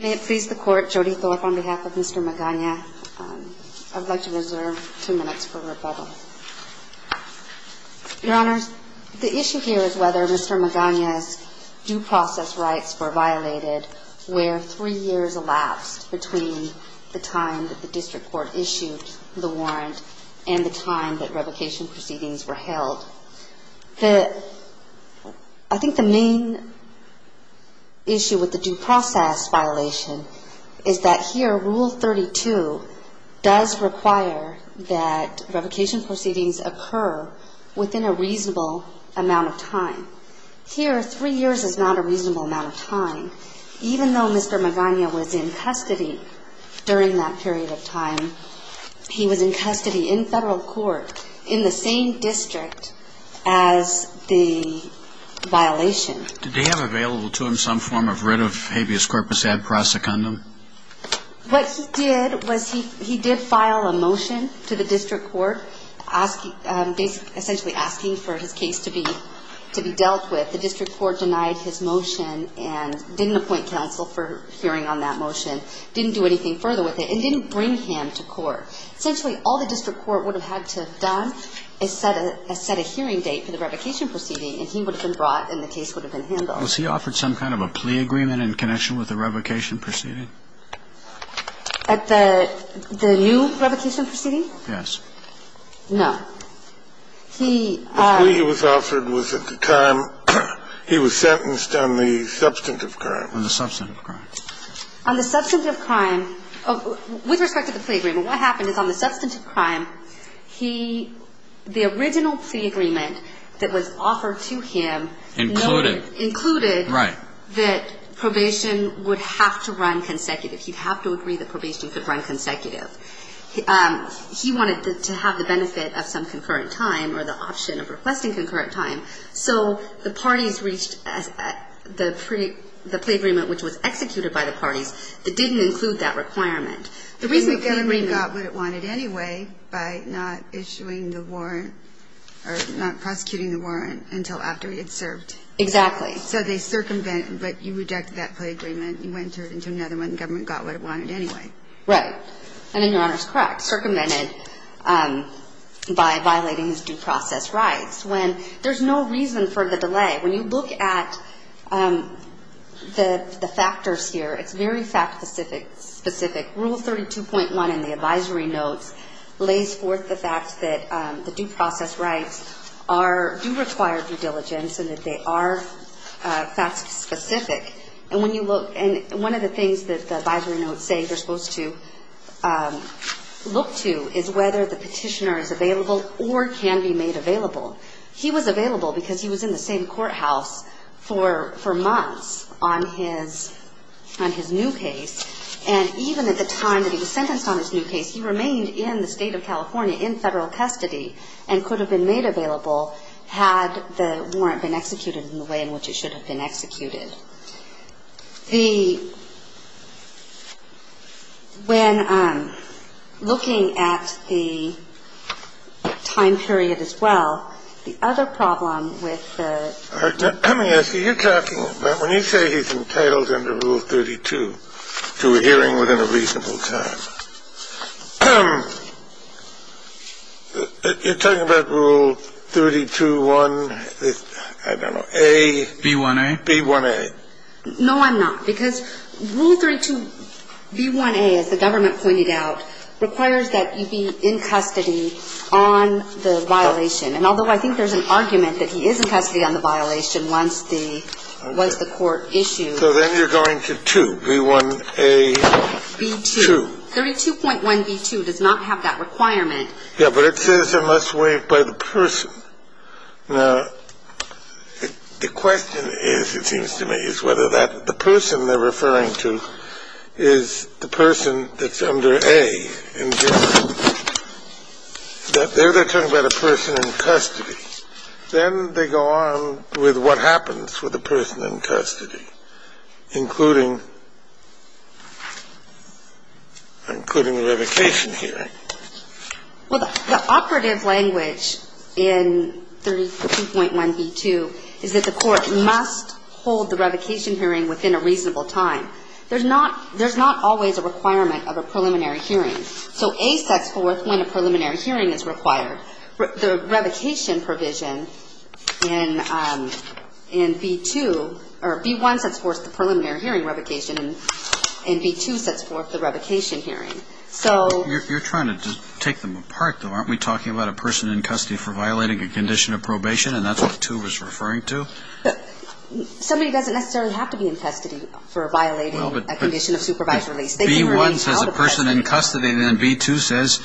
May it please the Court, Jody Philip on behalf of Mr. Magana, I'd like to reserve two minutes for rebuttal. Your Honors, the issue here is whether Mr. Magana's due process rights were violated where three years elapsed between the time that the District Court issued the warrant and the time that revocation proceedings were held. I think the main issue with the due process violation is that here Rule 32 does require that revocation proceedings occur within a reasonable amount of time. Here, three years is not a reasonable amount of time. Even though Mr. Magana was in custody during that period of time, he was in custody in federal court in the same district as the violation. Did they have available to him some form of writ of habeas corpus ad prosecundum? What he did was he did file a motion to the District Court essentially asking for his case to be dealt with. The District Court denied his motion and didn't appoint counsel for hearing on that motion. Didn't do anything further with it and didn't bring him to court. Essentially all the District Court would have had to have done is set a hearing date for the revocation proceeding and he would have been brought and the case would have been handled. Was he offered some kind of a plea agreement in connection with the revocation proceeding? At the new revocation proceeding? Yes. No. The plea he was offered was at the time he was sentenced on the substantive crime. On the substantive crime. On the substantive crime, with respect to the plea agreement, what happened is on the substantive crime, the original plea agreement that was offered to him. Included. Included that probation would have to run consecutive. He'd have to agree that probation could run consecutive. He wanted to have the benefit of some concurrent time or the option of requesting concurrent time. So the parties reached the plea agreement which was executed by the parties that didn't include that requirement. The reason the plea agreement got what it wanted anyway by not issuing the warrant or not prosecuting the warrant until after he had served. Exactly. So they circumvented, but you rejected that plea agreement, you entered into another one, the government got what it wanted anyway. Right. And then your Honor's correct. Circumvented by violating his due process rights. When there's no reason for the delay. When you look at the factors here, it's very fact specific. Rule 32.1 in the advisory notes lays forth the fact that the due process rights are, do require due diligence and that they are fact specific. And when you look, and one of the things that the advisory notes say you're supposed to look to is whether the petitioner is available or can be made available. He was available because he was in the same courthouse for months on his new case. And even at the time that he was sentenced on his new case, he remained in the state of California in federal custody and could have been made available had the warrant been executed in the way in which it should have been executed. The when I'm looking at the time period as well, the other problem with. I mean, you're talking about when you say he's entitled under Rule 32 to a hearing within a reasonable time. You're talking about Rule 32.1. I don't know. A. B1A. B1A. No, I'm not. Because Rule 32. B1A, as the government pointed out, requires that you be in custody on the violation. And although I think there's an argument that he is in custody on the violation once the court issued. So then you're going to 2. B1A. B2. 32.1. B2 does not have that requirement. Yeah, but it says it must wait by the person. Now, the question is, it seems to me, is whether that the person they're referring to is the person that's under a. And that they're talking about a person in custody. Then they go on with what happens with the person in custody, including the revocation hearing. Well, the operative language in 32.1. B2 is that the court must hold the revocation hearing within a reasonable time. There's not always a requirement of a preliminary hearing. So A sets forth when a preliminary hearing is required. The revocation provision in B2, or B1 sets forth the preliminary hearing revocation. And B2 sets forth the revocation hearing. You're trying to take them apart, though. Aren't we talking about a person in custody for violating a condition of probation? And that's what 2 was referring to? Somebody doesn't necessarily have to be in custody for violating a condition of supervised release. B1 says a person in custody. And then B2 says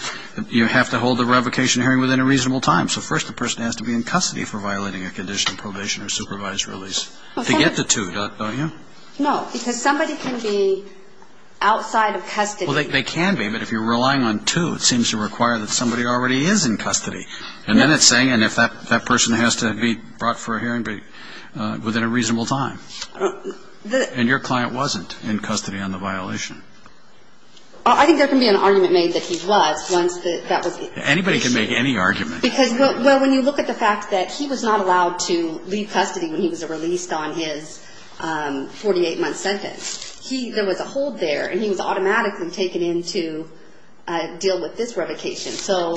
you have to hold the revocation hearing within a reasonable time. So first the person has to be in custody for violating a condition of probation or supervised release to get the 2, don't you? No, because somebody can be outside of custody. Well, they can be. But if you're relying on 2, it seems to require that somebody already is in custody. And then it's saying, and if that person has to be brought for a hearing within a reasonable time. And your client wasn't in custody on the violation? I think there can be an argument made that he was once that was issued. Anybody can make any argument. Because, well, when you look at the fact that he was not allowed to leave custody when he was released on his 48-month sentence, he was a hold there, and he was automatically taken in to deal with this revocation. So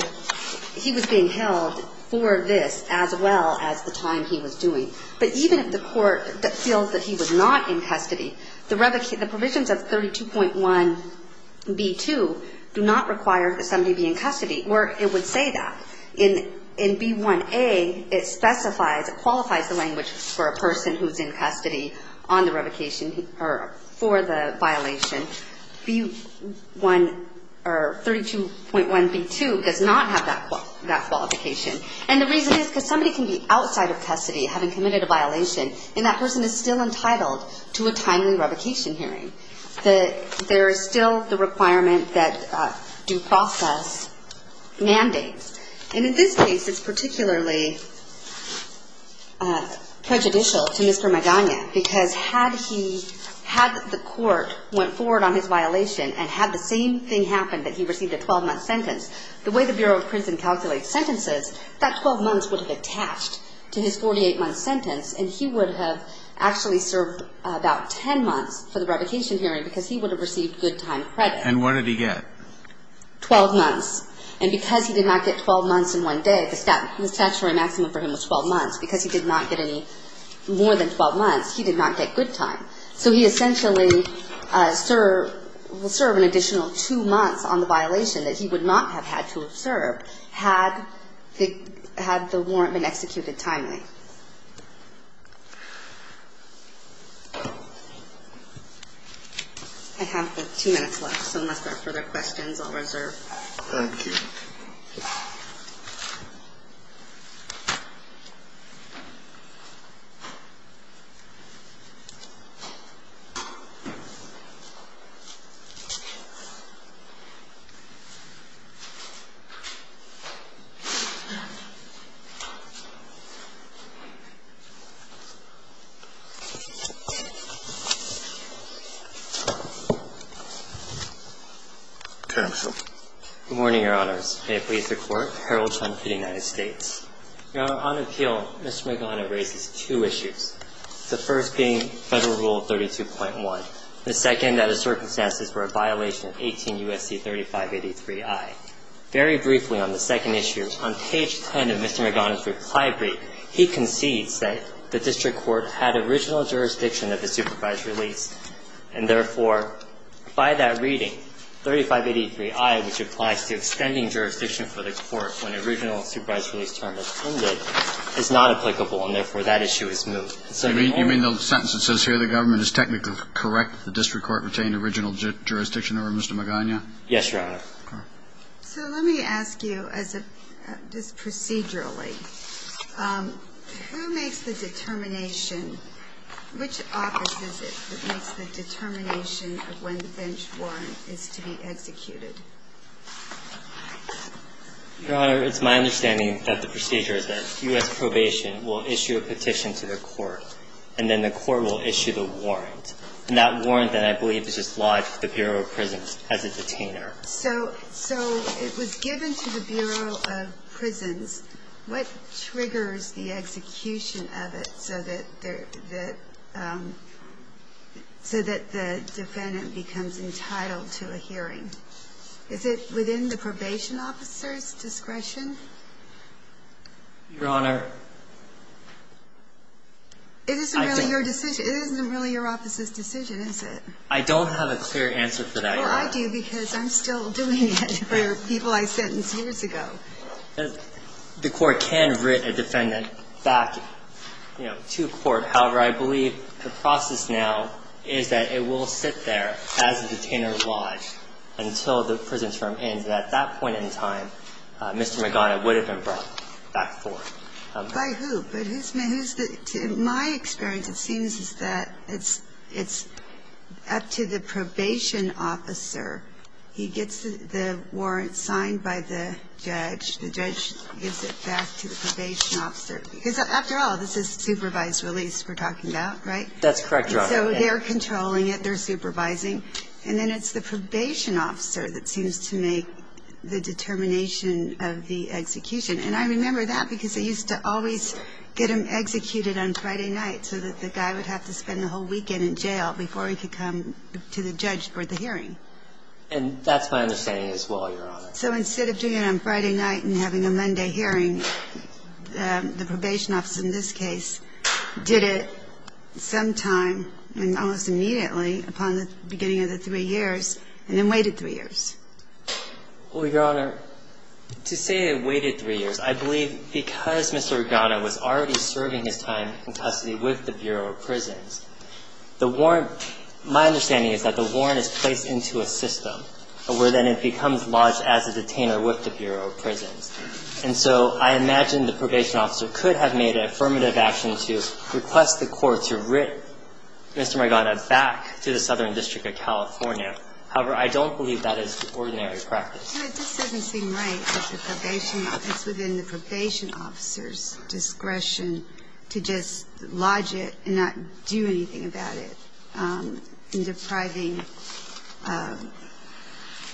he was being held for this as well as the time he was doing. But even if the court feels that he was not in custody, the revocation, the provisions of 32.1B2 do not require that somebody be in custody. Or it would say that. In B1A, it specifies, it qualifies the language for a person who's in custody on the revocation or for the violation. B1 or 32.1B2 does not have that qualification. And the reason is because somebody can be outside of custody having committed a violation, and that person is still entitled to a timely revocation hearing. There is still the requirement that due process mandates. And in this case, it's particularly prejudicial to Mr. Magana, because had the court went forward on his violation and had the same thing happen, that he received a 12-month sentence, the way the Bureau of Prison calculates sentences, that 12 months would have attached to his 48-month sentence, and he would have actually served about 10 months for the revocation hearing because he would have received good time credit. And what did he get? 12 months. And because he did not get 12 months in one day, the statutory maximum for him was 12 months. Because he did not get any more than 12 months, he did not get good time. So he essentially will serve an additional two months on the violation that he would not have had to have served had the warrant been executed timely. I have two minutes left, so unless there are further questions, I'll reserve. Thank you, Your Honor. Counsel. Good morning, Your Honors. May it please the Court, Harold Trump v. United States. Your Honor, on appeal, Mr. Magana raises two issues, the first being Federal Rule 32.1, the second that the circumstances were a violation of 18 U.S.C. 3583I. Very briefly on the second issue, on page 10 of Mr. Magana's reply brief, he concedes that the district court had original jurisdiction of the supervised release, and therefore, by that reading, 3583I, which applies to extending jurisdiction for the court when the original supervised release term has ended, is not applicable, and therefore that issue is moved. You mean the sentence that says here the government is technically correct, the district court retained original jurisdiction over Mr. Magana? Yes, Your Honor. So let me ask you, just procedurally, who makes the determination, which office is it that makes the determination of when the bench warrant is to be executed? Your Honor, it's my understanding that the procedure is that U.S. Probation will issue a petition to the court, and then the court will issue the warrant. And that warrant, then, I believe, is just lodged to the Bureau of Prisons as a detainer. So it was given to the Bureau of Prisons. What triggers the execution of it so that the defendant becomes entitled to a hearing? Is it within the probation officer's discretion? Your Honor, I don't know. It isn't really your decision. It isn't really your office's decision, is it? I don't have a clear answer for that yet. Well, I do, because I'm still doing it for people I sentenced years ago. The court can writ a defendant back, you know, to court. However, I believe the process now is that it will sit there as a detainer lodged until the prison term ends. And at that point in time, Mr. McDonough would have been brought back forth. By who? But who's the – my experience, it seems, is that it's up to the probation officer. He gets the warrant signed by the judge. The judge gives it back to the probation officer. Because, after all, this is supervised release we're talking about, right? That's correct, Your Honor. And so they're controlling it, they're supervising. And then it's the probation officer that seems to make the determination of the execution. And I remember that because they used to always get him executed on Friday night so that the guy would have to spend the whole weekend in jail before he could come to the judge for the hearing. And that's my understanding as well, Your Honor. So instead of doing it on Friday night and having a Monday hearing, the probation officer in this case did it sometime, I mean, almost immediately upon the beginning of the three years, and then waited three years. Well, Your Honor, to say it waited three years, I believe because Mr. McDonough was already serving his time in custody with the Bureau of Prisons, the warrant is placed into a system where then it becomes lodged as a detainer with the Bureau of Prisons. And so I imagine the probation officer could have made an affirmative action to request the court to writ Mr. McDonough back to the Southern District of California. However, I don't believe that is the ordinary practice. No, it just doesn't seem right that the probation officer, it's within the probation officer's discretion to just lodge it and not do anything about it in depriving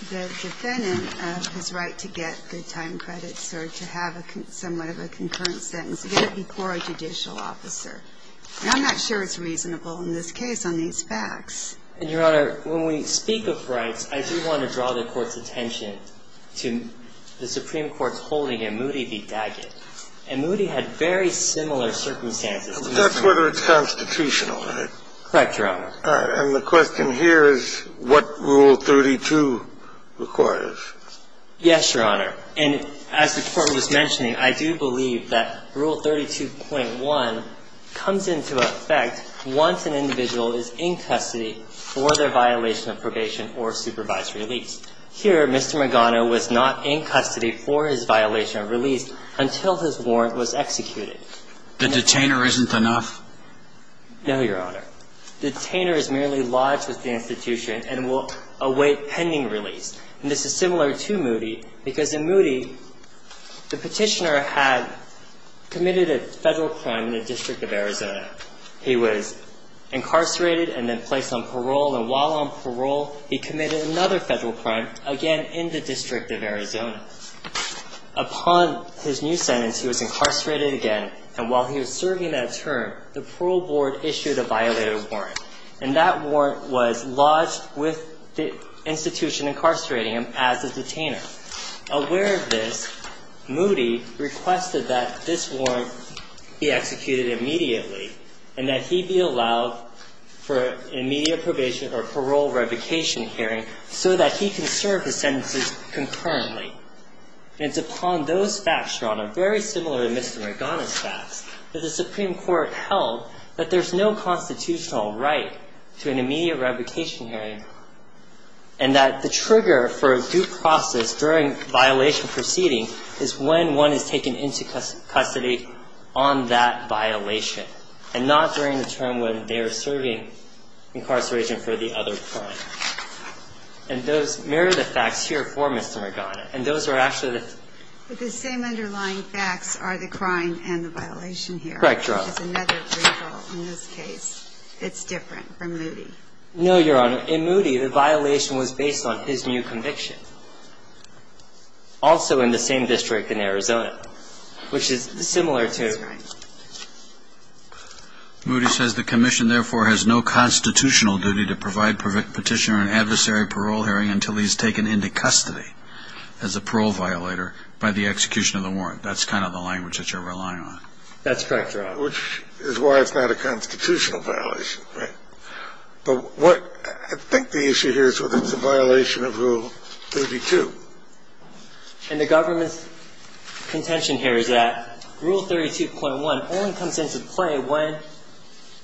the defendant of his right to get good time credits or to have somewhat of a concurrent sentence, again, before a judicial officer. And I'm not sure it's reasonable in this case on these facts. And, Your Honor, when we speak of rights, I do want to draw the Court's attention to the Supreme Court's holding in Moody v. Daggett. And Moody had very similar circumstances. But that's whether it's constitutional, right? Correct, Your Honor. All right. And the question here is what Rule 32 requires. Yes, Your Honor. And as the Court was mentioning, I do believe that Rule 32.1 comes into effect once an individual is in custody for their violation of probation or supervised release. Here, Mr. Magano was not in custody for his violation of release until his warrant was executed. The detainer isn't enough? No, Your Honor. The detainer is merely lodged with the institution and will await pending release. And this is similar to Moody, because in Moody, the Petitioner had committed a Federal crime in the District of Arizona. He was incarcerated and then placed on parole. And while on parole, he committed another Federal crime, again in the District of Arizona. Upon his new sentence, he was incarcerated again. And while he was serving that term, the parole board issued a violated warrant. And that warrant was lodged with the institution incarcerating him as a detainer. Aware of this, Moody requested that this warrant be executed immediately and that he be allowed for immediate probation or parole revocation hearing so that he can serve his sentences concurrently. And it's upon those facts, Your Honor, very similar to Mr. Magano's facts, that the Supreme Court held that there's no constitutional right to an immediate revocation hearing and that the trigger for a due process during violation proceeding is when one is taken into custody on that violation and not during the term when they're serving incarceration for the other crime. And those mirror the facts here for Mr. Magano. And those are actually the things. But the same underlying facts are the crime and the violation here. Correct, Your Honor. Which is another vehicle in this case. It's different from Moody. No, Your Honor. In Moody, the violation was based on his new conviction. Also in the same district in Arizona, which is similar to... That's right. Moody says the commission, therefore, has no constitutional duty to provide petitioner an adversary parole hearing until he's taken into custody as a parole violator by the execution of the warrant. That's kind of the language that you're relying on. That's correct, Your Honor. Which is why it's not a constitutional violation. Right. But what I think the issue here is whether it's a violation of Rule 32. And the government's contention here is that Rule 32.1 only comes into play when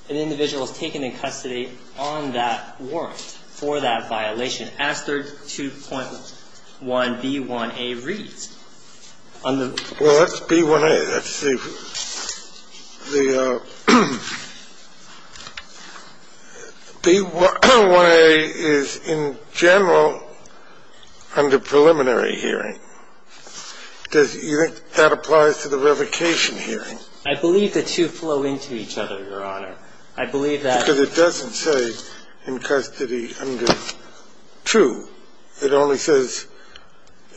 an individual is taken in custody on that warrant for that violation, as 32.1B1A reads. Well, that's B1A. That's the... B1A is in general under preliminary hearing. Do you think that applies to the revocation hearing? I believe the two flow into each other, Your Honor. I believe that... Because it doesn't say in custody under two. It only says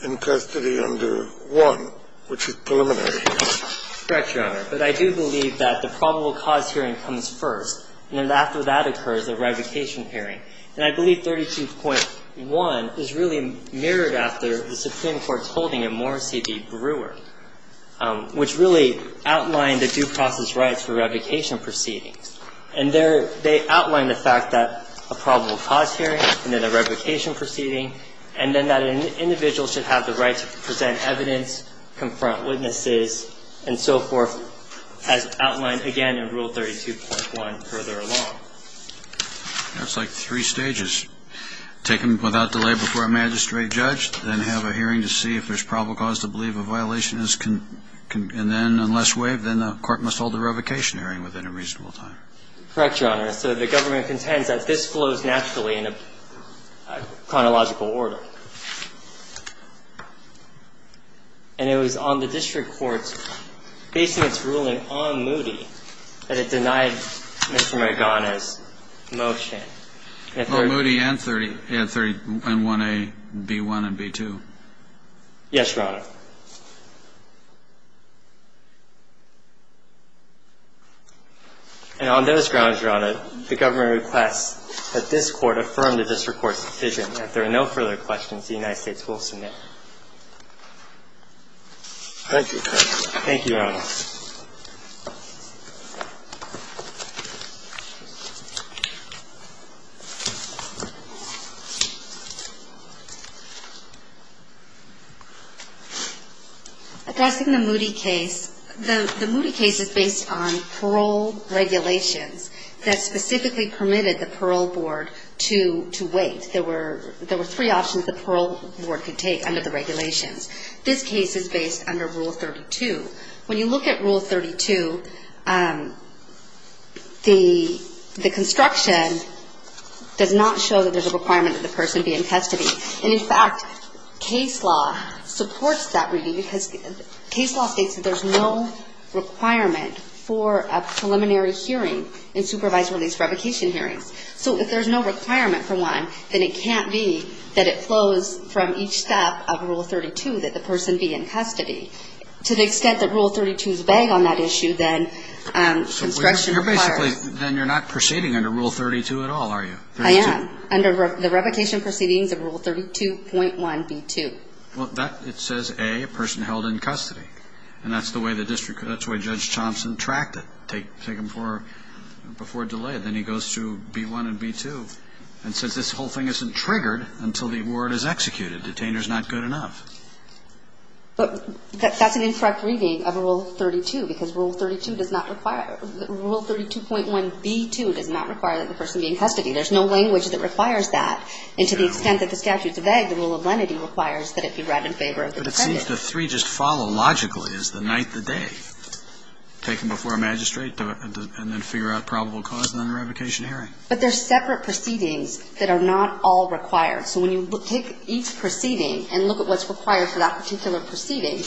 in custody under one, which is preliminary hearing. That's correct, Your Honor. But I do believe that the probable cause hearing comes first, and then after that occurs a revocation hearing. And I believe 32.1 is really mirrored after the Supreme Court's holding in Morrissey v. Brewer, which really outlined the due process rights for revocation proceedings. And they outline the fact that a probable cause hearing, and then a revocation proceeding, and then that an individual should have the right to present evidence, confront witnesses, and so forth, as outlined again in Rule 32.1 further along. That's like three stages. Taken without delay before a magistrate judge, then have a hearing to see if there's probable cause to believe a violation is, and then unless waived, then the court must hold a revocation hearing within a reasonable time. Correct, Your Honor. So the government contends that this flows naturally in a chronological order. And it was on the district court's basements ruling on Moody that it denied Mr. Margana's motion. Well, Moody and 31a, b1, and b2. Yes, Your Honor. And on those grounds, Your Honor, the government requests that this Court affirm the district court's decision. If there are no further questions, the United States will submit. Thank you, Your Honor. Thank you, Your Honor. Addressing the Moody case, the Moody case is based on parole regulations that specifically permitted the parole board to wait. There were three options the parole board could take under the regulations. This case is based under Rule 32. When you look at Rule 32, the construction does not show that there's a requirement that the person be in custody. And, in fact, case law supports that reading because case law states that there's no requirement for a preliminary hearing in supervisory release revocation hearings. So if there's no requirement for one, then it can't be that it flows from each step of Rule 32 that the person be in custody. To the extent that Rule 32 is vague on that issue, then construction requires So you're basically, then you're not proceeding under Rule 32 at all, are you? I am. Under the revocation proceedings of Rule 32.1b2. Well, that, it says, a, a person held in custody. And that's the way the district, that's the way Judge Thompson tracked it. Take him for, before delay. Then he goes to b1 and b2. And since this whole thing isn't triggered until the word is executed, detainer is not good enough. But that's an incorrect reading of Rule 32 because Rule 32 does not require Rule 32.1b2 does not require that the person be in custody. There's no language that requires that. And to the extent that the statute's vague, the rule of lenity requires that it be read in favor of the defendant. But it seems the three just follow logically as the night, the day. Take him before a magistrate and then figure out probable cause and then a revocation hearing. But there's separate proceedings that are not all required. So when you take each proceeding and look at what's required for that particular proceeding,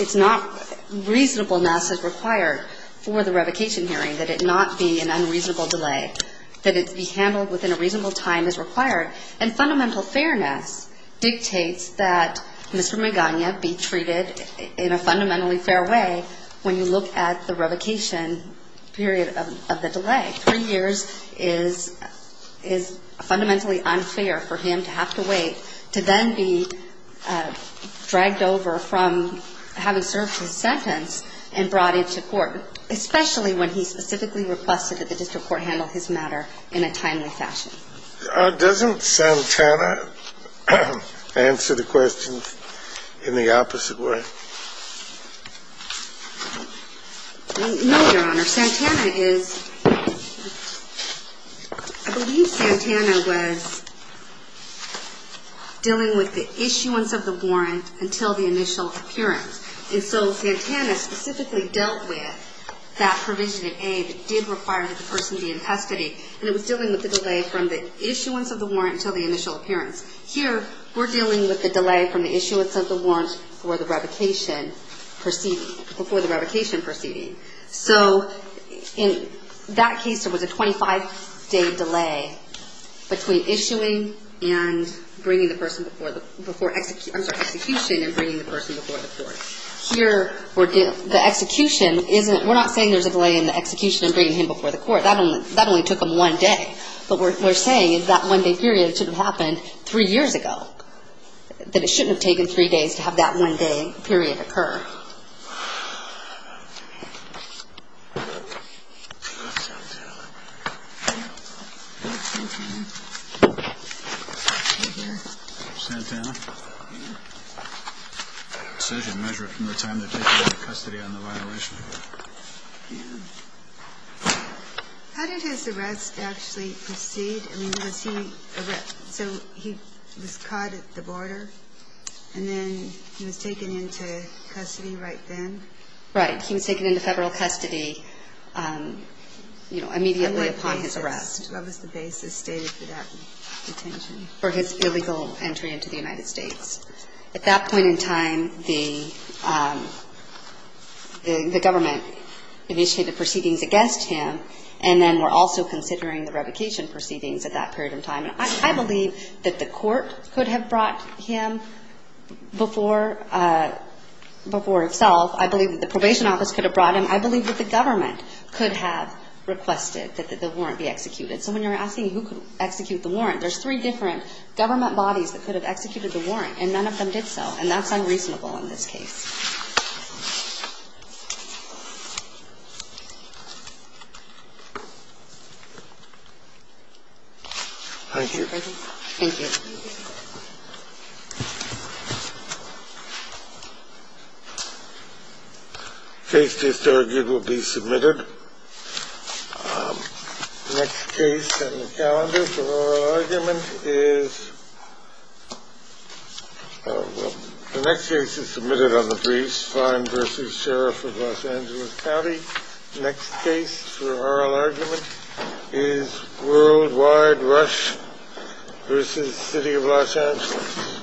it's not, reasonableness is required for the revocation hearing. That it not be an unreasonable delay. That it be handled within a reasonable time is required. And fundamental fairness dictates that Mr. Magana be treated in a fundamentally fair way when you look at the revocation period of the delay. Three years is fundamentally unfair for him to have to wait to then be dragged over from having served his sentence and brought into court, especially when he specifically requested that the district court handle his matter in a timely fashion. SANTANA. Doesn't Santana answer the question in the opposite way? No, Your Honor. Santana is ‑‑ I believe Santana was dealing with the issuance of the warrant until the initial appearance. And so Santana specifically dealt with that provision of aid that did require that the person be in custody. And it was dealing with the delay from the issuance of the warrant until the initial appearance. Here, we're dealing with the delay from the issuance of the warrant for the revocation proceeding, before the revocation proceeding. So in that case, there was a 25‑day delay between issuing and bringing the person before ‑‑ I'm sorry, execution and bringing the person before the court. Here, the execution isn't ‑‑ we're not saying there's a delay in the from one day. But what we're saying is that one‑day period should have happened three years ago. That it shouldn't have taken three days to have that one‑day period occur. Santana? Yeah. It says you measure it from the time they're taking you into custody on the violation. Yeah. How did his arrest actually proceed? I mean, was he ‑‑ so he was caught at the border, and then he was taken into custody right then? Right. He was taken into Federal custody, you know, immediately upon his arrest. What was the basis stated for that detention? For his illegal entry into the United States. At that point in time, the government initiated proceedings against him, and then we're also considering the revocation proceedings at that period of time. And I believe that the court could have brought him before itself. I believe that the probation office could have brought him. I believe that the government could have requested that the warrant be executed. So when you're asking who could execute the warrant, there's three different government bodies that could have executed the warrant, and none of them did so, and that's unreasonable in this case. Thank you. Thank you. Case discharges will be submitted. Next case on the calendar for oral argument is ‑‑ well, the next case is submitted on the briefs, Fine v. Sheriff of Los Angeles County. Next case for oral argument is Worldwide Rush v. City of Los Angeles.